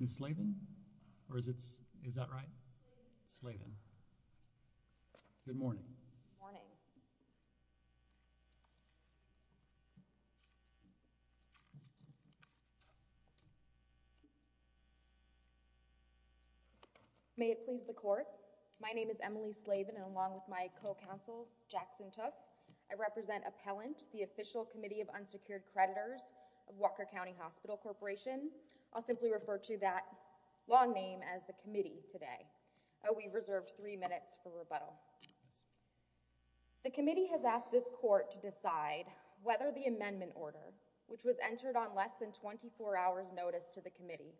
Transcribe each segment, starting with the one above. Ms. Slaven? Or is that right? Slaven. Good morning. May it please the Court. My name is Emily Slaven and along with my co-counsel, Jackson Tuff, I represent Appellant, the official committee of unsecured creditors of Walker County Hospital Corporation. I'll simply refer to that long name as the committee today. We reserved three minutes for rebuttal. The committee has asked this Court to decide whether the amendment order, which was entered on less than 24 hours notice to the committee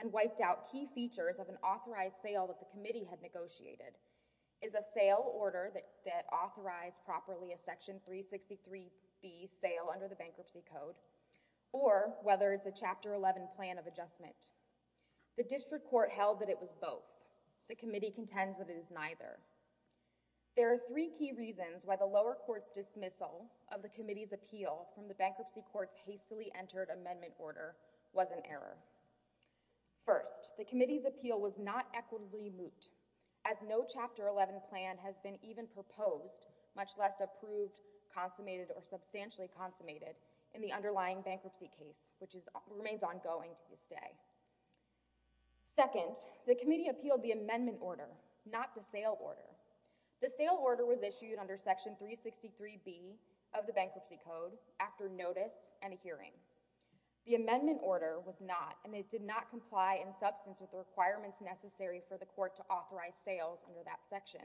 and wiped out key features of an authorized sale that the committee had negotiated, is a sale order that authorized properly a Section 363B sale under the Bankruptcy Code, or whether it's a Chapter 11 plan of adjustment. The district court held that it was both. The committee contends that it is neither. There are three key reasons why the lower court's dismissal of the committee's appeal from the bankruptcy court's hastily entered amendment order was an error. First, the committee's appeal was not equitably moot. As no Chapter 11 plan has been even proposed, much less approved, consummated, or substantially consummated in the underlying bankruptcy case, which remains ongoing to this day. Second, the committee appealed the amendment order, not the sale order. The sale order was issued under Section 363B of the Bankruptcy Code after notice and a hearing. The amendment order was not and it did not comply in substance with the requirements necessary for the court to authorize sales under that section.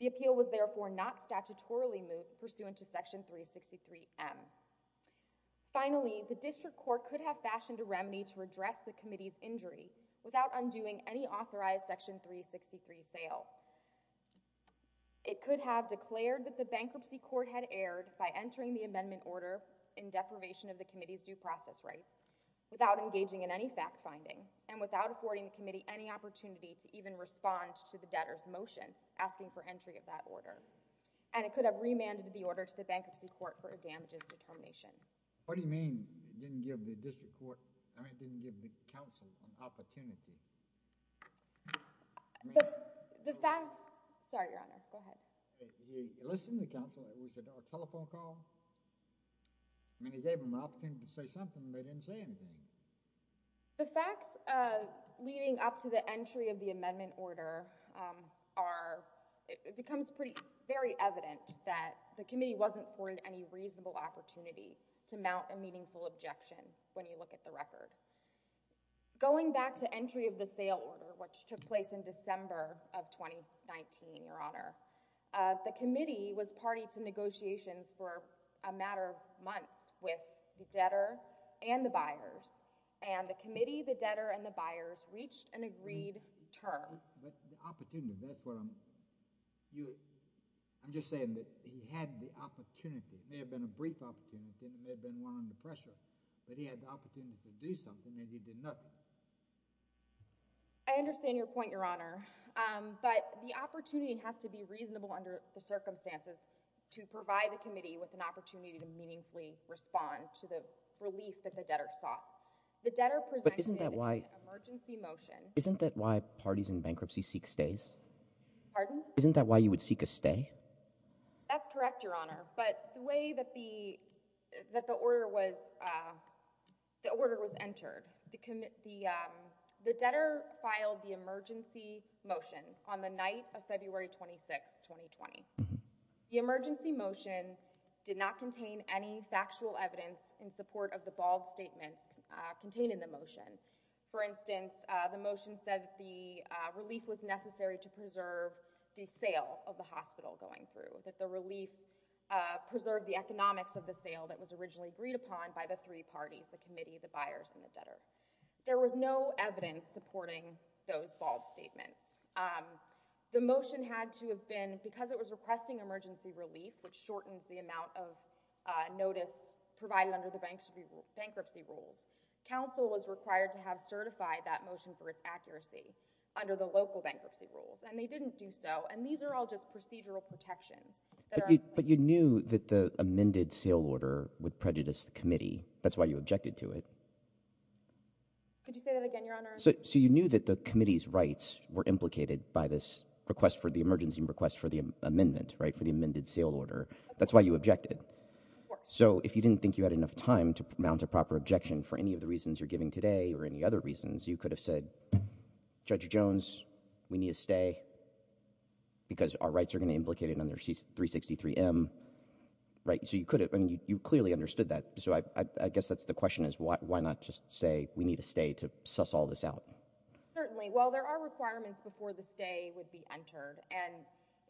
The appeal was therefore not statutorily moot pursuant to Section 363M. Finally, the district court could have fashioned a remedy to redress the committee's injury without undoing any authorized Section 363 sale. It could have declared that the bankruptcy court had erred by entering the amendment order in deprivation of the committee's due process rights, without engaging in any fact finding, and without affording the committee any opportunity to even respond to the debtor's motion asking for entry of that order. And it could have remanded the order to the bankruptcy court for a damages determination. What do you mean it didn't give the district court, I mean it didn't give the counsel an opportunity? The fact—sorry, Your Honor, go ahead. It listened to counsel. It was a telephone call. I mean, it gave them an opportunity to say something, but it didn't say anything. The facts leading up to the entry of the amendment order are—it becomes very evident that the committee wasn't afforded any reasonable opportunity to mount a meaningful objection when you look at the record. Going back to entry of the sale order, which took place in December of 2019, Your Honor, the committee was party to negotiations for a matter of months with the debtor and the buyers, and the committee, the debtor, and the buyers reached an agreed term. But the opportunity, that's what I'm—I'm just saying that he had the opportunity. It may have been a brief opportunity, and it may have been one under pressure, but he had the opportunity to do something, and he did nothing. I understand your point, Your Honor, but the opportunity has to be reasonable under the relief that the debtor sought. The debtor presented an emergency motion— But isn't that why—isn't that why parties in bankruptcy seek stays? Pardon? Isn't that why you would seek a stay? That's correct, Your Honor, but the way that the—that the order was—the order was entered, the debtor filed the emergency motion on the night of February 26, 2020. The emergency motion did not contain any factual evidence in support of the bald statements contained in the motion. For instance, the motion said that the relief was necessary to preserve the sale of the hospital going through, that the relief preserved the economics of the sale that was originally agreed upon by the three parties—the committee, the buyers, and the debtor. There was no evidence supporting those bald statements. The motion had to have been—because it was requesting emergency relief, which shortens the amount of notice provided under the bankruptcy rules, counsel was required to have certified that motion for its accuracy under the local bankruptcy rules, and they didn't do so, and these are all just procedural protections that are— But you knew that the amended sale order would prejudice the committee. That's why you objected to it. Could you say that again, Your Honor? So you knew that the committee's rights were implicated by this request for—the emergency request for the amendment, right, for the amended sale order. That's why you objected. Of course. So if you didn't think you had enough time to mount a proper objection for any of the reasons you're giving today or any other reasons, you could have said, Judge Jones, we need a stay because our rights are going to be implicated under 363M. Right? So you could have—I mean, you clearly understood that. So I guess that's the question is why not just say we need a stay to suss all this out? Certainly. Well, there are requirements before the stay would be entered, and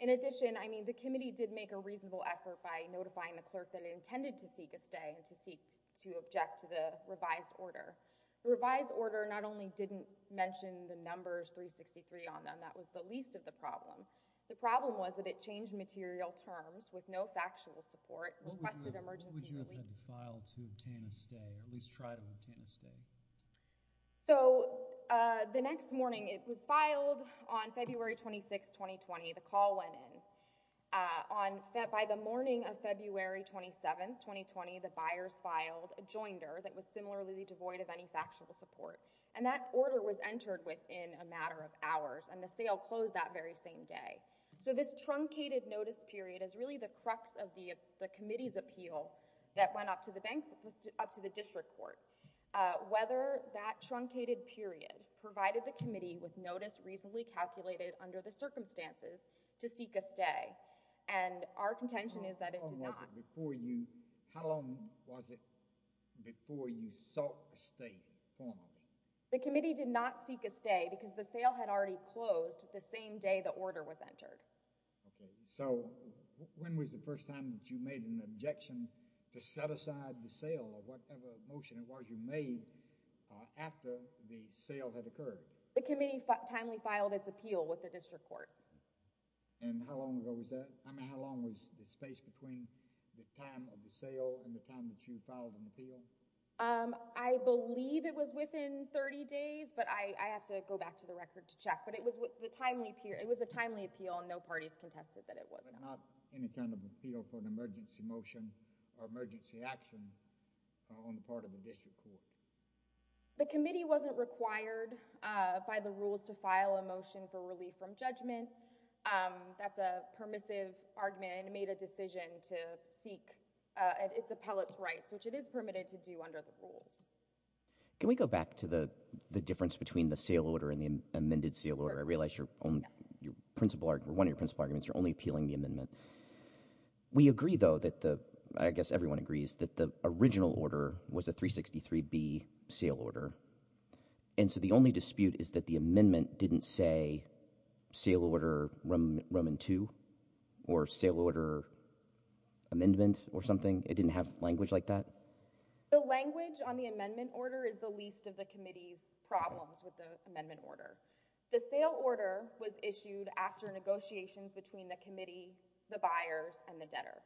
in addition, I mean, the committee did make a reasonable effort by notifying the clerk that it intended to seek a stay and to seek to object to the revised order. The revised order not only didn't mention the numbers 363 on them, that was the least of the problem. The problem was that it changed material terms with no factual support, requested emergency relief— Yes. —to obtain a stay or at least try to obtain a stay. So the next morning, it was filed on February 26, 2020. The call went in. By the morning of February 27, 2020, the buyers filed a joinder that was similarly devoid of any factual support, and that order was entered within a matter of hours, and the sale closed that very same day. So this truncated notice period is really the crux of the committee's appeal that went up to the district court, whether that truncated period provided the committee with notice reasonably calculated under the circumstances to seek a stay, and our contention is that it did not. How long was it before you sought a stay formally? The committee did not seek a stay because the sale had already closed the same day the order was entered. Okay, so when was the first time that you made an objection to set aside the sale or whatever motion it was you made after the sale had occurred? The committee timely filed its appeal with the district court. And how long ago was that? I mean, how long was the space between the time of the sale and the time that you filed an appeal? I believe it was within 30 days, but I have to go back to the record to check, but it was a timely appeal, and no parties contested that it was not. But not any kind of appeal for an emergency motion or emergency action on the part of the district court? The committee wasn't required by the rules to file a motion for relief from judgment. That's a permissive argument, and it made a decision to seek its appellate's rights, which it is permitted to do under the rules. Can we go back to the difference between the sale order and the amended sale order? I realize one of your principal arguments, you're only appealing the amendment. We agree, though, I guess everyone agrees, that the original order was a 363B sale order. And so the only dispute is that the amendment didn't say sale order Roman II or sale order amendment or something? It didn't have language like that? The language on the amendment order is the least of the committee's problems with the amendment order. The sale order was issued after negotiations between the committee, the buyers, and the debtor.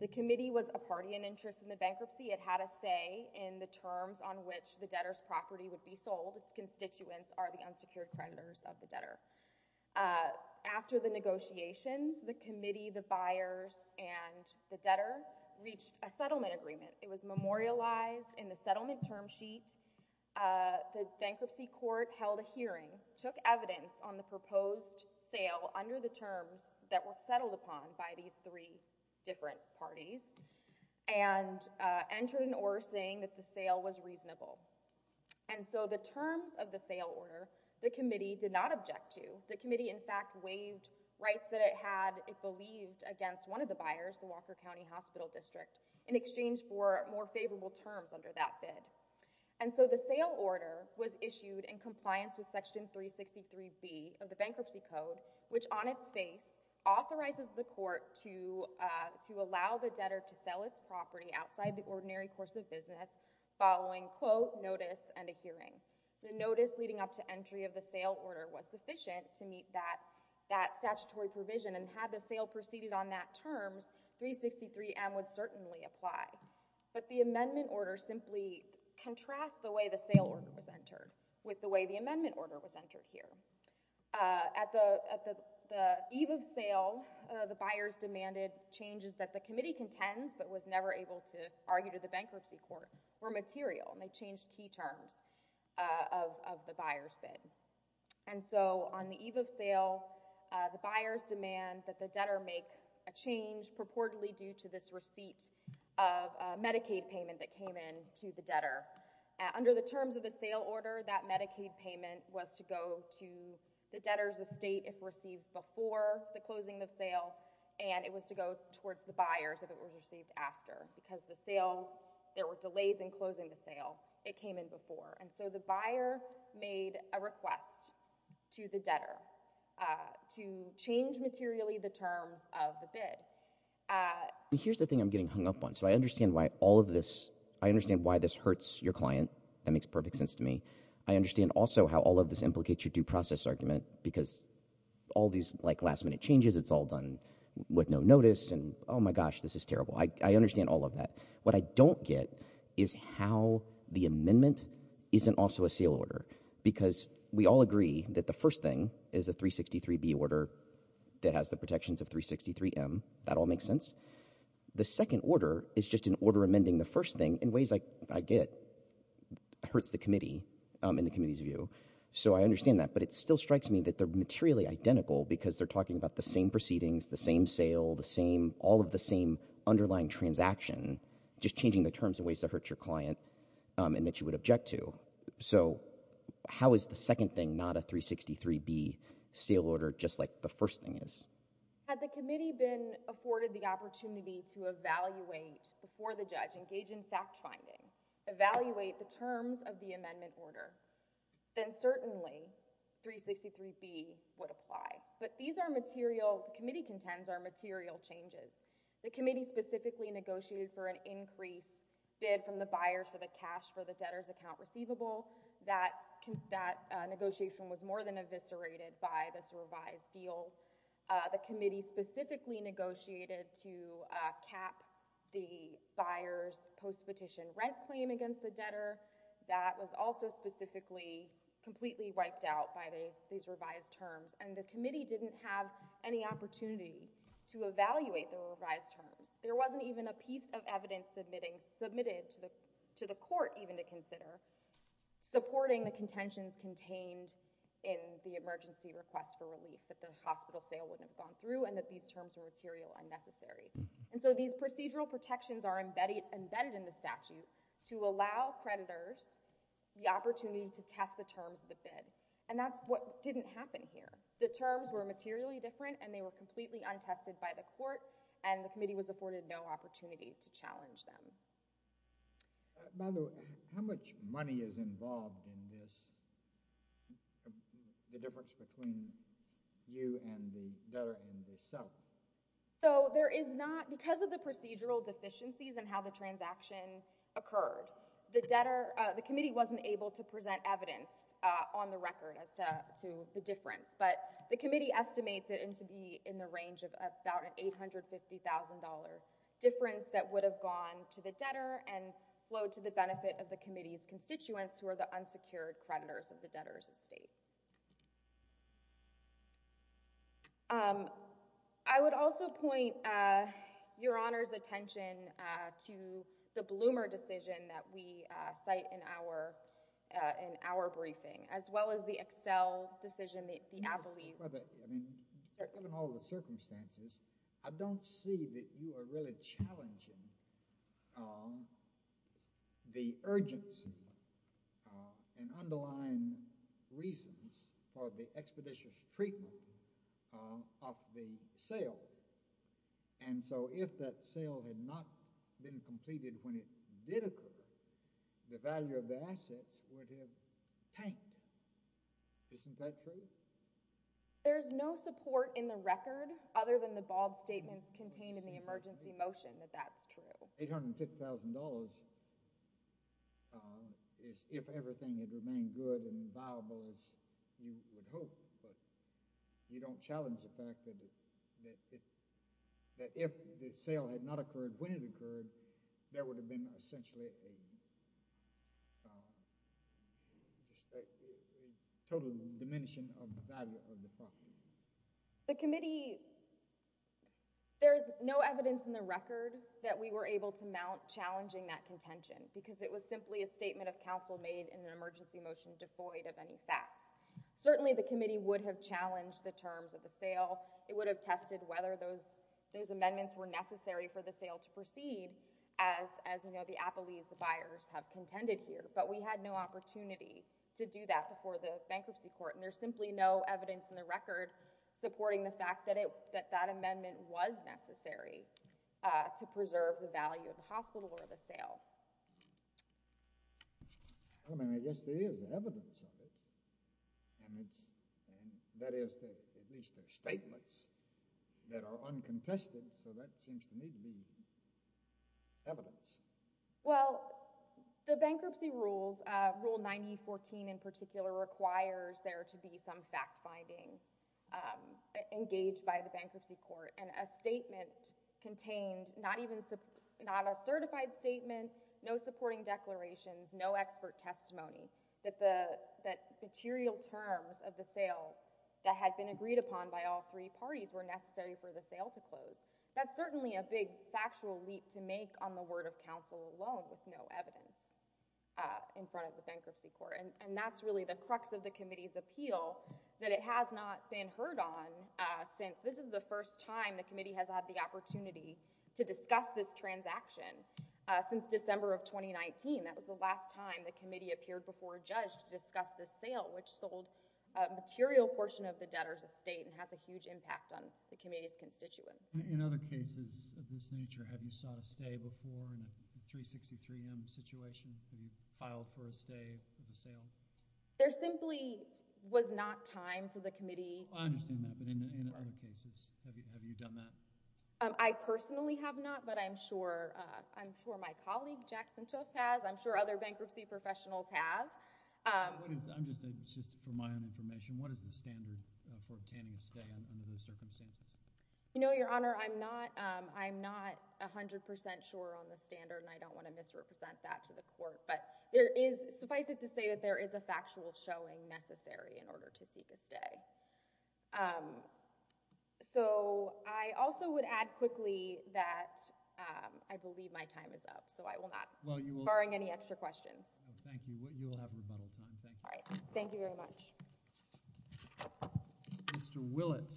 The committee was a party in interest in the bankruptcy. It had a say in the terms on which the debtor's property would be sold. Its constituents are the unsecured creditors of the debtor. After the negotiations, the committee, the buyers, and the debtor reached a settlement agreement. It was memorialized in the settlement term sheet. The bankruptcy court held a hearing, took evidence on the proposed sale under the terms that were settled upon by these three different parties, and entered an order saying that the sale was reasonable. And so the terms of the sale order, the committee did not object to. The committee, in fact, waived rights that it had, it believed, against one of the buyers, the Walker County Hospital District, in exchange for more favorable terms under that bid. And so the sale order was issued in compliance with Section 363B of the Bankruptcy Code, which on its face authorizes the court to allow the debtor to sell its property outside the ordinary course of business following, quote, notice and a hearing. The notice leading up to entry of the sale order was sufficient to meet that statutory provision, and had the sale proceeded on that terms, 363M would certainly apply. But the amendment order simply contrasts the way the sale order was entered with the way the amendment order was entered here. At the eve of sale, the buyers demanded changes that the committee contends, but was never able to argue to the bankruptcy court, were material, and they changed key terms of the buyer's bid. And so on the eve of sale, the buyers demand that the debtor make a change purportedly due to this receipt of Medicaid payment that came in to the debtor. Under the terms of the sale order, that Medicaid payment was to go to the debtor's estate if received before the closing of sale, and it was to go towards the buyers if it was received after, because the sale, there were delays in closing the sale. It came in before. And so the buyer made a request to the debtor to change materially the terms of the bid. Here's the thing I'm getting hung up on. So I understand why all of this, I understand why this hurts your client, that makes perfect sense to me. I understand also how all of this implicates your due process argument, because all these last minute changes, it's all done with no notice, and oh my gosh, this is terrible. I understand all of that. What I don't get is how the amendment isn't also a sale order, because we all agree that the first thing is a 363B order that has the protections of 363M, that all makes sense. The second order is just an order amending the first thing in ways I get hurts the committee in the committee's view. So I understand that, but it still strikes me that they're materially identical because they're talking about the same proceedings, the same sale, the same, all of the same underlying transaction, just changing the terms in ways that hurt your client and that you would object to. So how is the second thing not a 363B sale order just like the first thing is? Had the committee been afforded the opportunity to evaluate before the judge, engage in fact finding, evaluate the terms of the amendment order, then certainly 363B would apply. But these are material, the committee contends are material changes. The committee specifically negotiated for an increase bid from the buyers for the cash for the debtor's account receivable. That negotiation was more than eviscerated by this revised deal. The committee specifically negotiated to cap the buyer's post-petition rent claim against the debtor. That was also specifically completely wiped out by these revised terms. And the committee didn't have any opportunity to evaluate the revised terms. There wasn't even a piece of evidence submitted to the court even to consider supporting the contentions contained in the emergency request for relief that the hospital sale wouldn't have gone through and that these terms were material unnecessary. And so these procedural protections are embedded in the statute to allow creditors the opportunity to test the terms of the bid. And that's what didn't happen here. The terms were materially different and they were completely untested by the court and the committee was afforded no opportunity to challenge them. By the way, how much money is involved in this, the difference between you and the debtor and yourself? So there is not, because of the procedural deficiencies and how the transaction occurred, the debtor, the committee wasn't able to present evidence on the record as to the difference. But the committee estimates it to be in the range of about an $850,000 difference that would have gone to the debtor and flowed to the benefit of the committee's constituents who are the unsecured creditors of the debtor's estate. I would also point Your Honor's attention to the Bloomer decision that we cite in our briefing, as well as the Excel decision, the Appleys. Given all the circumstances, I don't see that you are really challenging the urgency and underlying reasons for the expeditious treatment of the sale. And so if that sale had not been completed when it did occur, the value of the assets would have tanked. Isn't that true? There is no support in the record, other than the bald statements contained in the emergency motion, that that's true. $850,000 is if everything had remained good and viable as you would hope, but you don't challenge the fact that if the sale had not occurred when it occurred, there would have been essentially a total diminishing of the value of the property. The committee, there's no evidence in the record that we were able to mount challenging that contention because it was simply a statement of counsel made in an emergency motion devoid of any facts. Certainly, the committee would have challenged the terms of the sale. It would have tested whether those amendments were necessary for the sale to proceed as the appellees, the buyers, have contended here. But we had no opportunity to do that before the bankruptcy court, and there's simply no evidence in the record supporting the fact that that amendment was necessary to preserve the value of the hospital or the sale. I mean, I guess there is evidence of it, and that is at least their statements that are true. Well, the bankruptcy rules, Rule 9014 in particular, requires there to be some fact-finding engaged by the bankruptcy court, and a statement contained, not a certified statement, no supporting declarations, no expert testimony, that the material terms of the sale that had been agreed upon by all three parties were necessary for the sale to close. That's certainly a big factual leap to make on the word of counsel alone with no evidence in front of the bankruptcy court, and that's really the crux of the committee's appeal that it has not been heard on since. This is the first time the committee has had the opportunity to discuss this transaction since December of 2019. That was the last time the committee appeared before a judge to discuss this sale, which sold a material portion of the debtor's estate and has a huge impact on the committee's constituents. In other cases of this nature, have you sought a stay before in a 363M situation? Have you filed for a stay for the sale? There simply was not time for the committee... I understand that, but in other cases, have you done that? I personally have not, but I'm sure my colleague, Jackson Took, has. I'm sure other bankruptcy professionals have. Just for my own information, what is the standard for obtaining a stay under those circumstances? Your Honor, I'm not 100% sure on the standard, and I don't want to misrepresent that to the court, but suffice it to say that there is a factual showing necessary in order to seek a stay. I also would add quickly that I believe my time is up, so I will not barring any extra questions. Thank you. You will have rebuttal time. Thank you. All right. Thank you very much. Mr. Willett.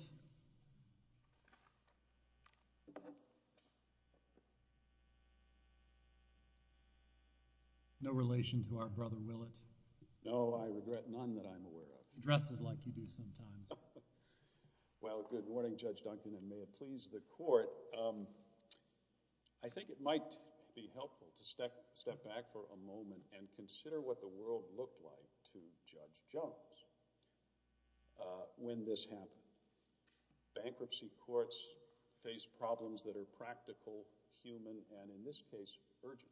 No relation to our brother, Willett? No, I regret none that I'm aware of. He dresses like you do sometimes. Well, good morning, Judge Duncan, and may it please the court. I think it might be helpful to step back for a moment and consider what the world looked like to Judge Jones. When this happened, bankruptcy courts face problems that are practical, human, and in this case, urgent.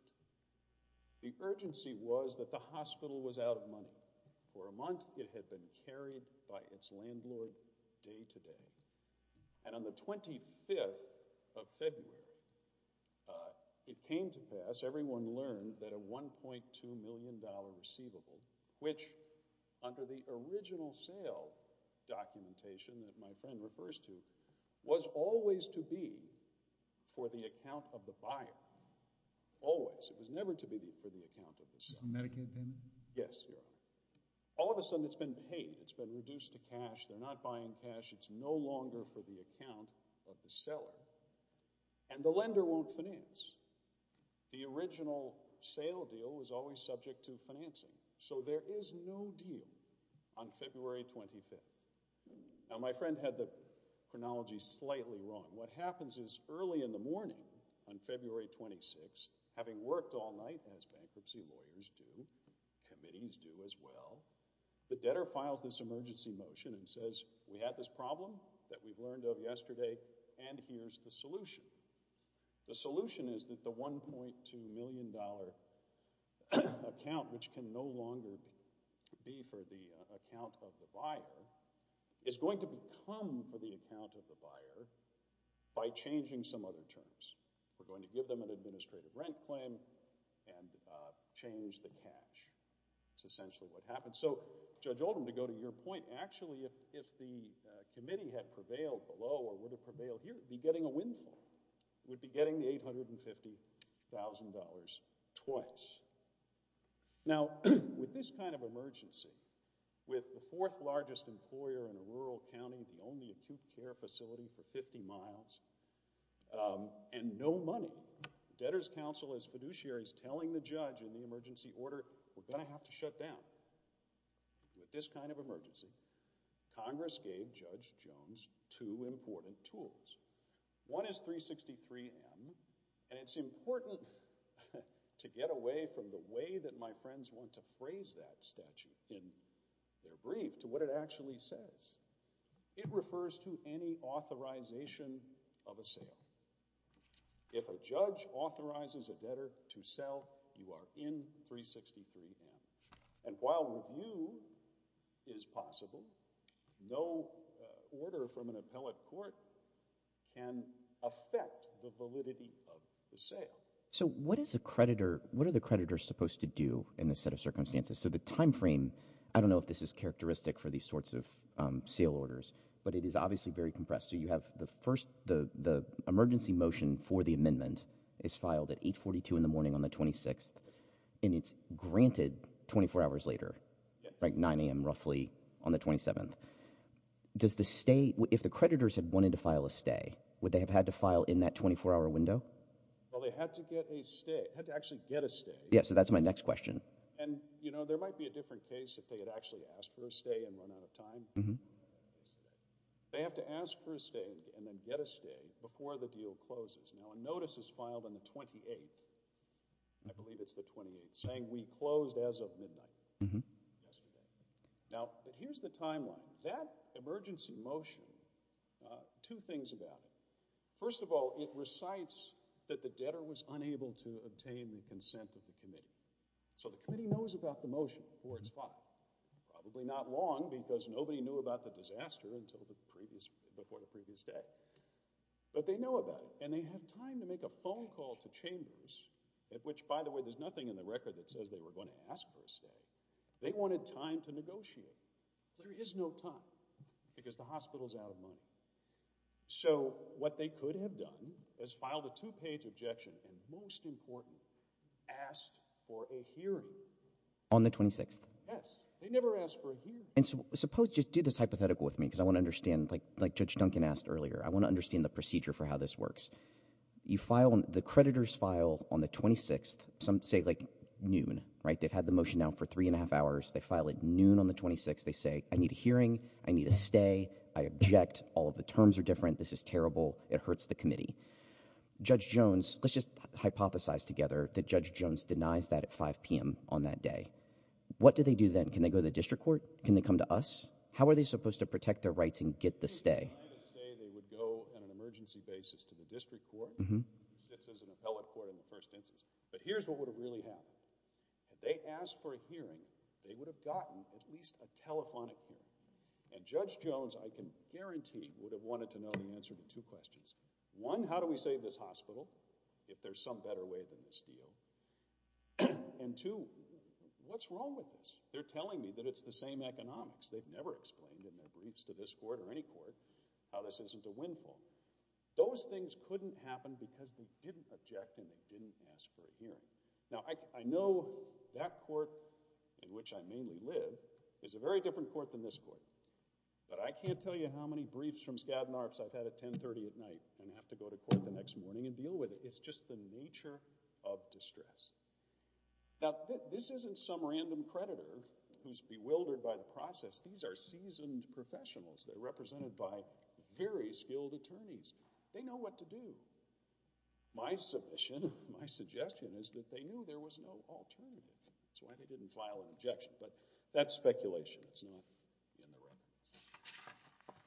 The urgency was that the hospital was out of money. For a month, it had been carried by its landlord day to day. And on the 25th of February, it came to pass, everyone learned, that a $1.2 million receivable, which under the original sale documentation that my friend refers to, was always to be for the account of the buyer. Always. It was never to be for the account of the seller. This is Medicaid payment? Yes, Your Honor. All of a sudden, it's been paid. It's been reduced to cash. They're not buying cash. It's no longer for the account of the seller. And the lender won't finance. The original sale deal was always subject to financing. So there is no deal on February 25th. Now, my friend had the chronology slightly wrong. What happens is, early in the morning on February 26th, having worked all night, as bankruptcy lawyers do, committees do as well, the debtor files this emergency motion and says, we had this problem that we've learned of yesterday, and here's the solution. The solution is that the $1.2 million account, which can no longer be for the account of the buyer, is going to become for the account of the buyer by changing some other terms. We're going to give them an administrative rent claim and change the cash. That's essentially what happens. So, Judge Oldham, to go to your point, actually, if the committee had prevailed below or would be getting a windfall, would be getting the $850,000 twice. Now, with this kind of emergency, with the fourth largest employer in a rural county, the only acute care facility for 50 miles, and no money, debtor's counsel is fiduciaries telling the judge in the emergency order, we're going to have to shut down. So, with this kind of emergency, Congress gave Judge Jones two important tools. One is 363M, and it's important to get away from the way that my friends want to phrase that statute in their brief to what it actually says. It refers to any authorization of a sale. If a judge authorizes a debtor to sell, you are in 363M. And while review is possible, no order from an appellate court can affect the validity of the sale. So, what is a creditor, what are the creditors supposed to do in this set of circumstances? So, the timeframe, I don't know if this is characteristic for these sorts of sale orders, but it is obviously very compressed. So, you have the first, the emergency motion for the amendment is filed at 842 in the morning on the 26th, and it's granted 24 hours later, like 9 a.m. roughly on the 27th. Does the stay, if the creditors had wanted to file a stay, would they have had to file in that 24-hour window? Well, they had to get a stay, had to actually get a stay. Yeah, so that's my next question. And, you know, there might be a different case if they had actually asked for a stay and run out of time. They have to ask for a stay and then get a stay before the deal closes. Now, a notice is filed on the 28th, I believe it's the 28th, saying, we closed as of midnight yesterday. Now, here's the timeline. That emergency motion, two things about it. First of all, it recites that the debtor was unable to obtain the consent of the committee. So, the committee knows about the motion before it's filed. Probably not long, because nobody knew about the disaster before the previous day. But they know about it, and they have time to make a phone call to chambers, at which, by the way, there's nothing in the record that says they were going to ask for a stay. They wanted time to negotiate. There is no time, because the hospital's out of money. So, what they could have done is filed a two-page objection, and most important, asked for a hearing. On the 26th? Yes. They never asked for a hearing. And suppose, just do this hypothetical with me, because I want to understand, like Judge Duncan asked earlier, I want to understand the procedure for how this works. You file, the creditors file on the 26th, some say, like, noon, right? They've had the motion now for three and a half hours. They file at noon on the 26th. They say, I need a hearing. I need a stay. I object. All of the terms are different. This is terrible. It hurts the committee. Judge Jones, let's just hypothesize together that Judge Jones denies that at 5 p.m. on that day. What do they do then? Can they go to the district court? Can they come to us? How are they supposed to protect their rights and get the stay? If they denied the stay, they would go on an emergency basis to the district court, which sits as an appellate court in the first instance. But here's what would have really happened. Had they asked for a hearing, they would have gotten at least a telephonic hearing. And Judge Jones, I can guarantee, would have wanted to know the answer to two questions. One, how do we save this hospital if there's some better way than this deal? And two, what's wrong with this? They're telling me that it's the same economics. They've never explained in their briefs to this court or any court how this isn't a windfall. Those things couldn't happen because they didn't object and they didn't ask for a hearing. Now, I know that court in which I mainly live is a very different court than this court. But I can't tell you how many briefs from Skadden Arps I've had at 10.30 at night and have to go to court the next morning and deal with it. It's just the nature of distress. Now, this isn't some random creditor who's bewildered by the process. These are seasoned professionals. They're represented by very skilled attorneys. They know what to do. My submission, my suggestion is that they knew there was no alternative. That's why they didn't file an objection. But that's speculation. It's not in the record.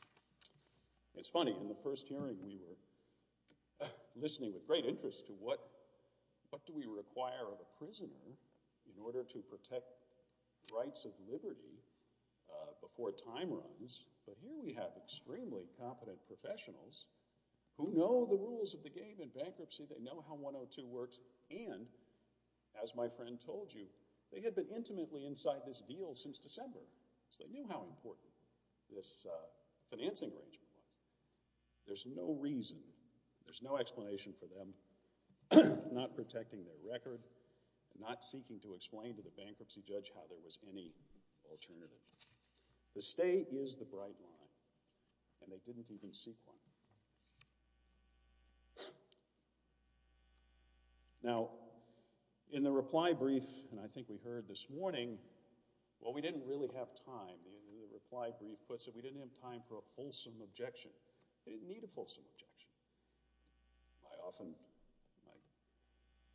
It's funny. In the first hearing, we were listening with great interest as to what do we require of a prisoner in order to protect rights of liberty before time runs. But here we have extremely competent professionals who know the rules of the game in bankruptcy. They know how 102 works. And, as my friend told you, they had been intimately inside this deal since December. So they knew how important this financing arrangement was. There's no reason, there's no explanation for them not protecting their record, not seeking to explain to the bankruptcy judge how there was any alternative. The stay is the bright line. And they didn't even seek one. Now, in the reply brief, and I think we heard this morning, well, we didn't really have time. The reply brief puts it, we didn't have time for a fulsome objection. They didn't need a fulsome objection. I often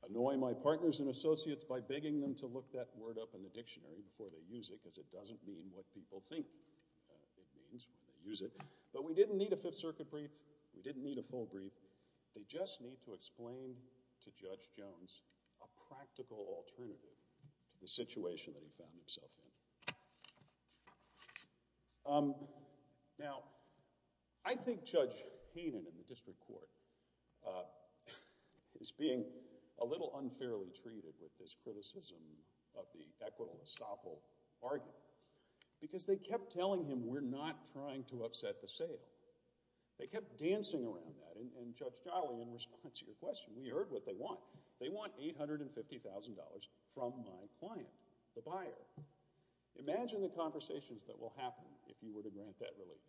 annoy my partners and associates by begging them to look that word up in the dictionary before they use it because it doesn't mean what people think it means when they use it. But we didn't need a Fifth Circuit brief. We didn't need a full brief. They just need to explain to Judge Jones a practical alternative to the situation that he found himself in. Now, I think Judge Haynen in the district court is being a little unfairly treated with this criticism of the equitable estoppel argument because they kept telling him, we're not trying to upset the sale. They kept dancing around that. And Judge Jolly, in response to your question, we heard what they want. They want $850,000 from my client, the buyer. Imagine the conversations that will happen if you were to grant that relief.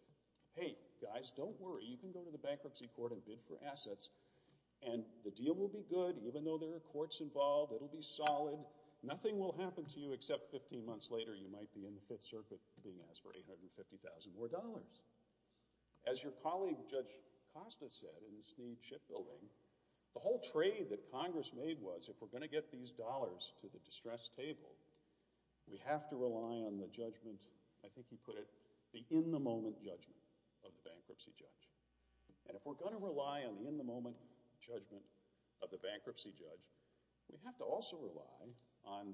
Hey, guys, don't worry. You can go to the bankruptcy court and bid for assets. And the deal will be good even though there are courts involved. It'll be solid. Nothing will happen to you except 15 months later you might be in the Fifth Circuit being asked for $850,000 more dollars. As your colleague Judge Costa said in the CHIP building, the whole trade that Congress made was, if we're going to get these dollars to the distress table, we have to rely on the judgment, I think he put it, the in-the-moment judgment of the bankruptcy judge. And if we're going to rely on the in-the-moment judgment of the bankruptcy judge, we have to also rely on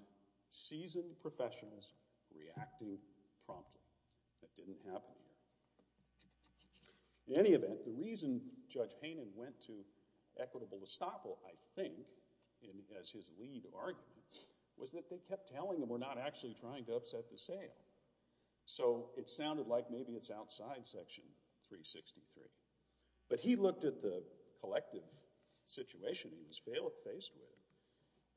seasoned professionals reacting promptly. That didn't happen here. In any event, the reason Judge Haynen went to equitable estoppel, I think, as his lead argument, was that they kept telling him we're not actually trying to upset the sale. So it sounded like maybe it's outside Section 363. But he looked at the collective situation he was faced with.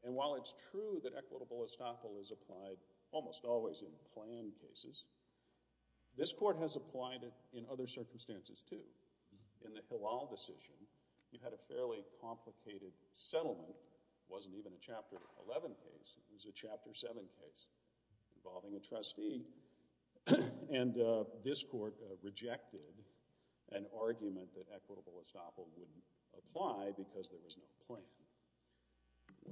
And while it's true that equitable estoppel is applied almost always in planned cases, this court has applied it in other circumstances, too. In the Hillel decision, you had a fairly complicated settlement. It wasn't even a Chapter 11 case. It was a Chapter 7 case involving a trustee. And this court rejected an argument that equitable estoppel wouldn't apply because there was no plan.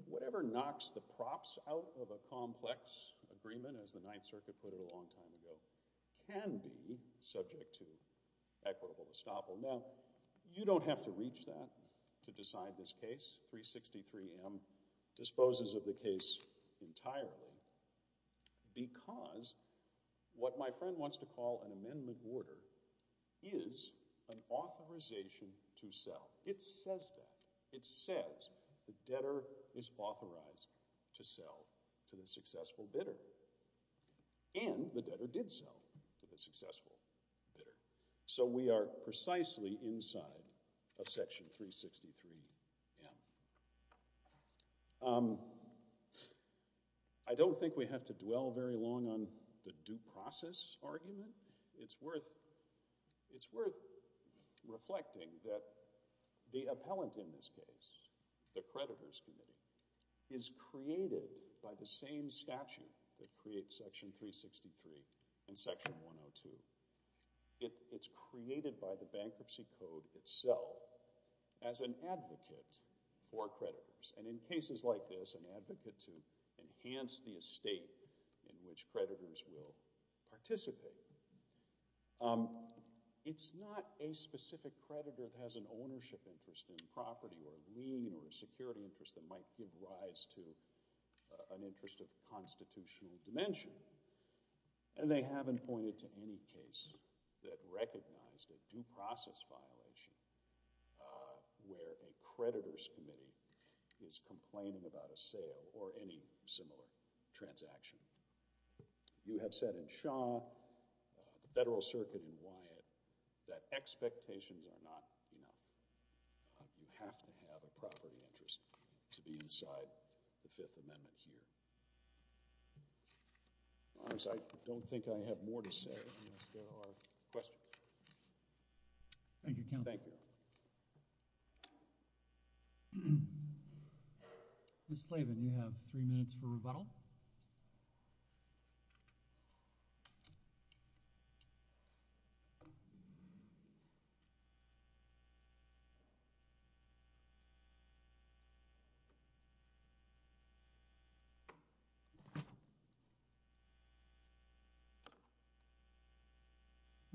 Whatever knocks the props out of a complex agreement, as the Ninth Circuit put it a long time ago, can be subject to equitable estoppel. Now, you don't have to reach that to decide this case. 363M disposes of the case entirely because what my friend wants to call an amendment order is an authorization to sell. It says that. It says the debtor is authorized to sell to the successful bidder. And the debtor did sell to the successful bidder. So we are precisely inside of Section 363M. I don't think we have to dwell very long on the due process argument. It's worth reflecting that the appellant in this case, the creditors' committee, is created by the same statute that creates Section 363 and Section 102. It's created by the bankruptcy code itself as an advocate for creditors. And in cases like this, an advocate to enhance the estate in which creditors will participate. It's not a specific creditor that has an ownership interest in property or lien or a security interest that might give rise to an interest of constitutional dimension. And they haven't pointed to any case that recognized a due process violation where a creditors' committee is complaining about a sale or any similar transaction. You have said in Shaw, the Federal Circuit in Wyatt, that expectations are not enough. You have to have a property interest to be inside the Fifth Amendment here. Otherwise, I don't think I have more to say unless there are questions. Thank you, counsel. Thank you. Ms. Slavin, you have three minutes for rebuttal.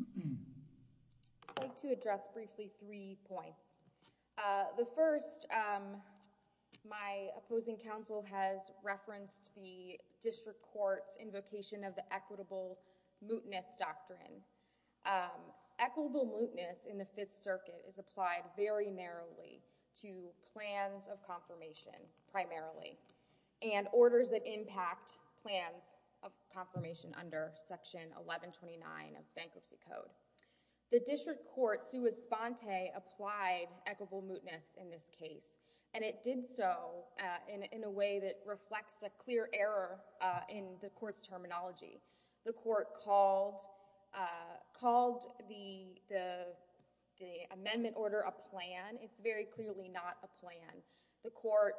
I'd like to address briefly three points. The first, my opposing counsel has referenced the district court's invocation of the equitable mootness doctrine. Equitable mootness in the Fifth Circuit is applied very narrowly to plans of confirmation, primarily. And orders that impact plans of confirmation under Section 1129 of Bankruptcy Code. The district court, sua sponte, applied equitable mootness in this case. And it did so in a way that reflects a clear error in the court's terminology. The court called the amendment order a plan. It's very clearly not a plan. The court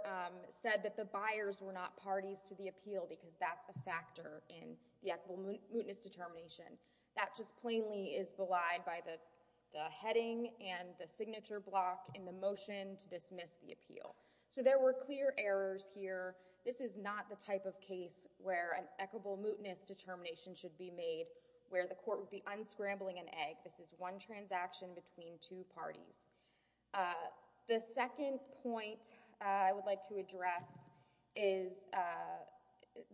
said that the buyers were not parties to the appeal because that's a factor in the equitable mootness determination. That just plainly is belied by the heading and the signature block in the motion to dismiss the appeal. So there were clear errors here. This is not the type of case where an equitable mootness determination should be made, where the court would be unscrambling an egg. This is one transaction between two parties. The second point I would like to address is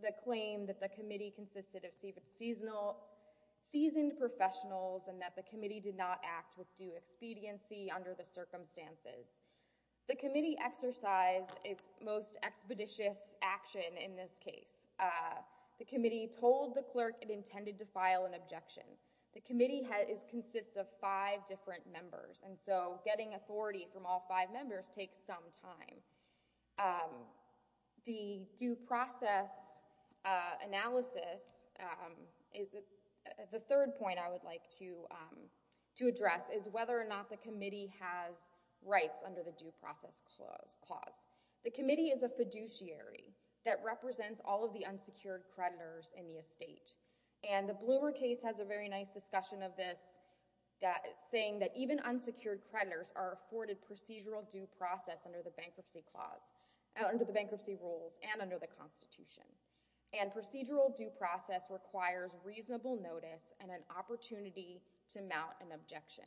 the claim that the committee consisted of seasoned professionals and that the committee did not act with due expediency under the circumstances. The committee exercised its most expeditious action in this case. The committee told the clerk it intended to file an objection. The committee consists of five different members. And so getting authority from all five members takes some time. The due process analysis, the third point I would like to address, is whether or not the committee has rights under the due process clause. The committee is a fiduciary that represents all of the unsecured creditors in the estate. And the Bloomer case has a very nice discussion of this, saying that even unsecured creditors are afforded procedural due process under the bankruptcy clause, under the bankruptcy rules, and under the Constitution. And procedural due process requires reasonable notice and an opportunity to mount an objection.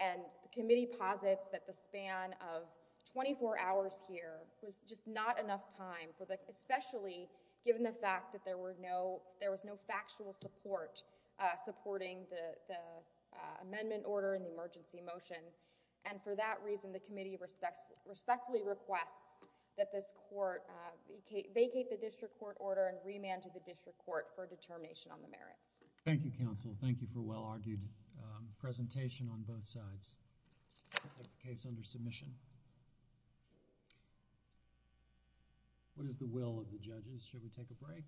And the committee posits that the span of 24 hours here was just not enough time, especially given the fact that there was no factual support supporting the amendment order and the emergency motion. And for that reason, the committee respectfully requests that this court vacate the district court order and remand to the district court for determination on the merits. Thank you, counsel. Thank you for a well-argued presentation on both sides. I'll take the case under submission. What is the will of the judges? Should we take a break?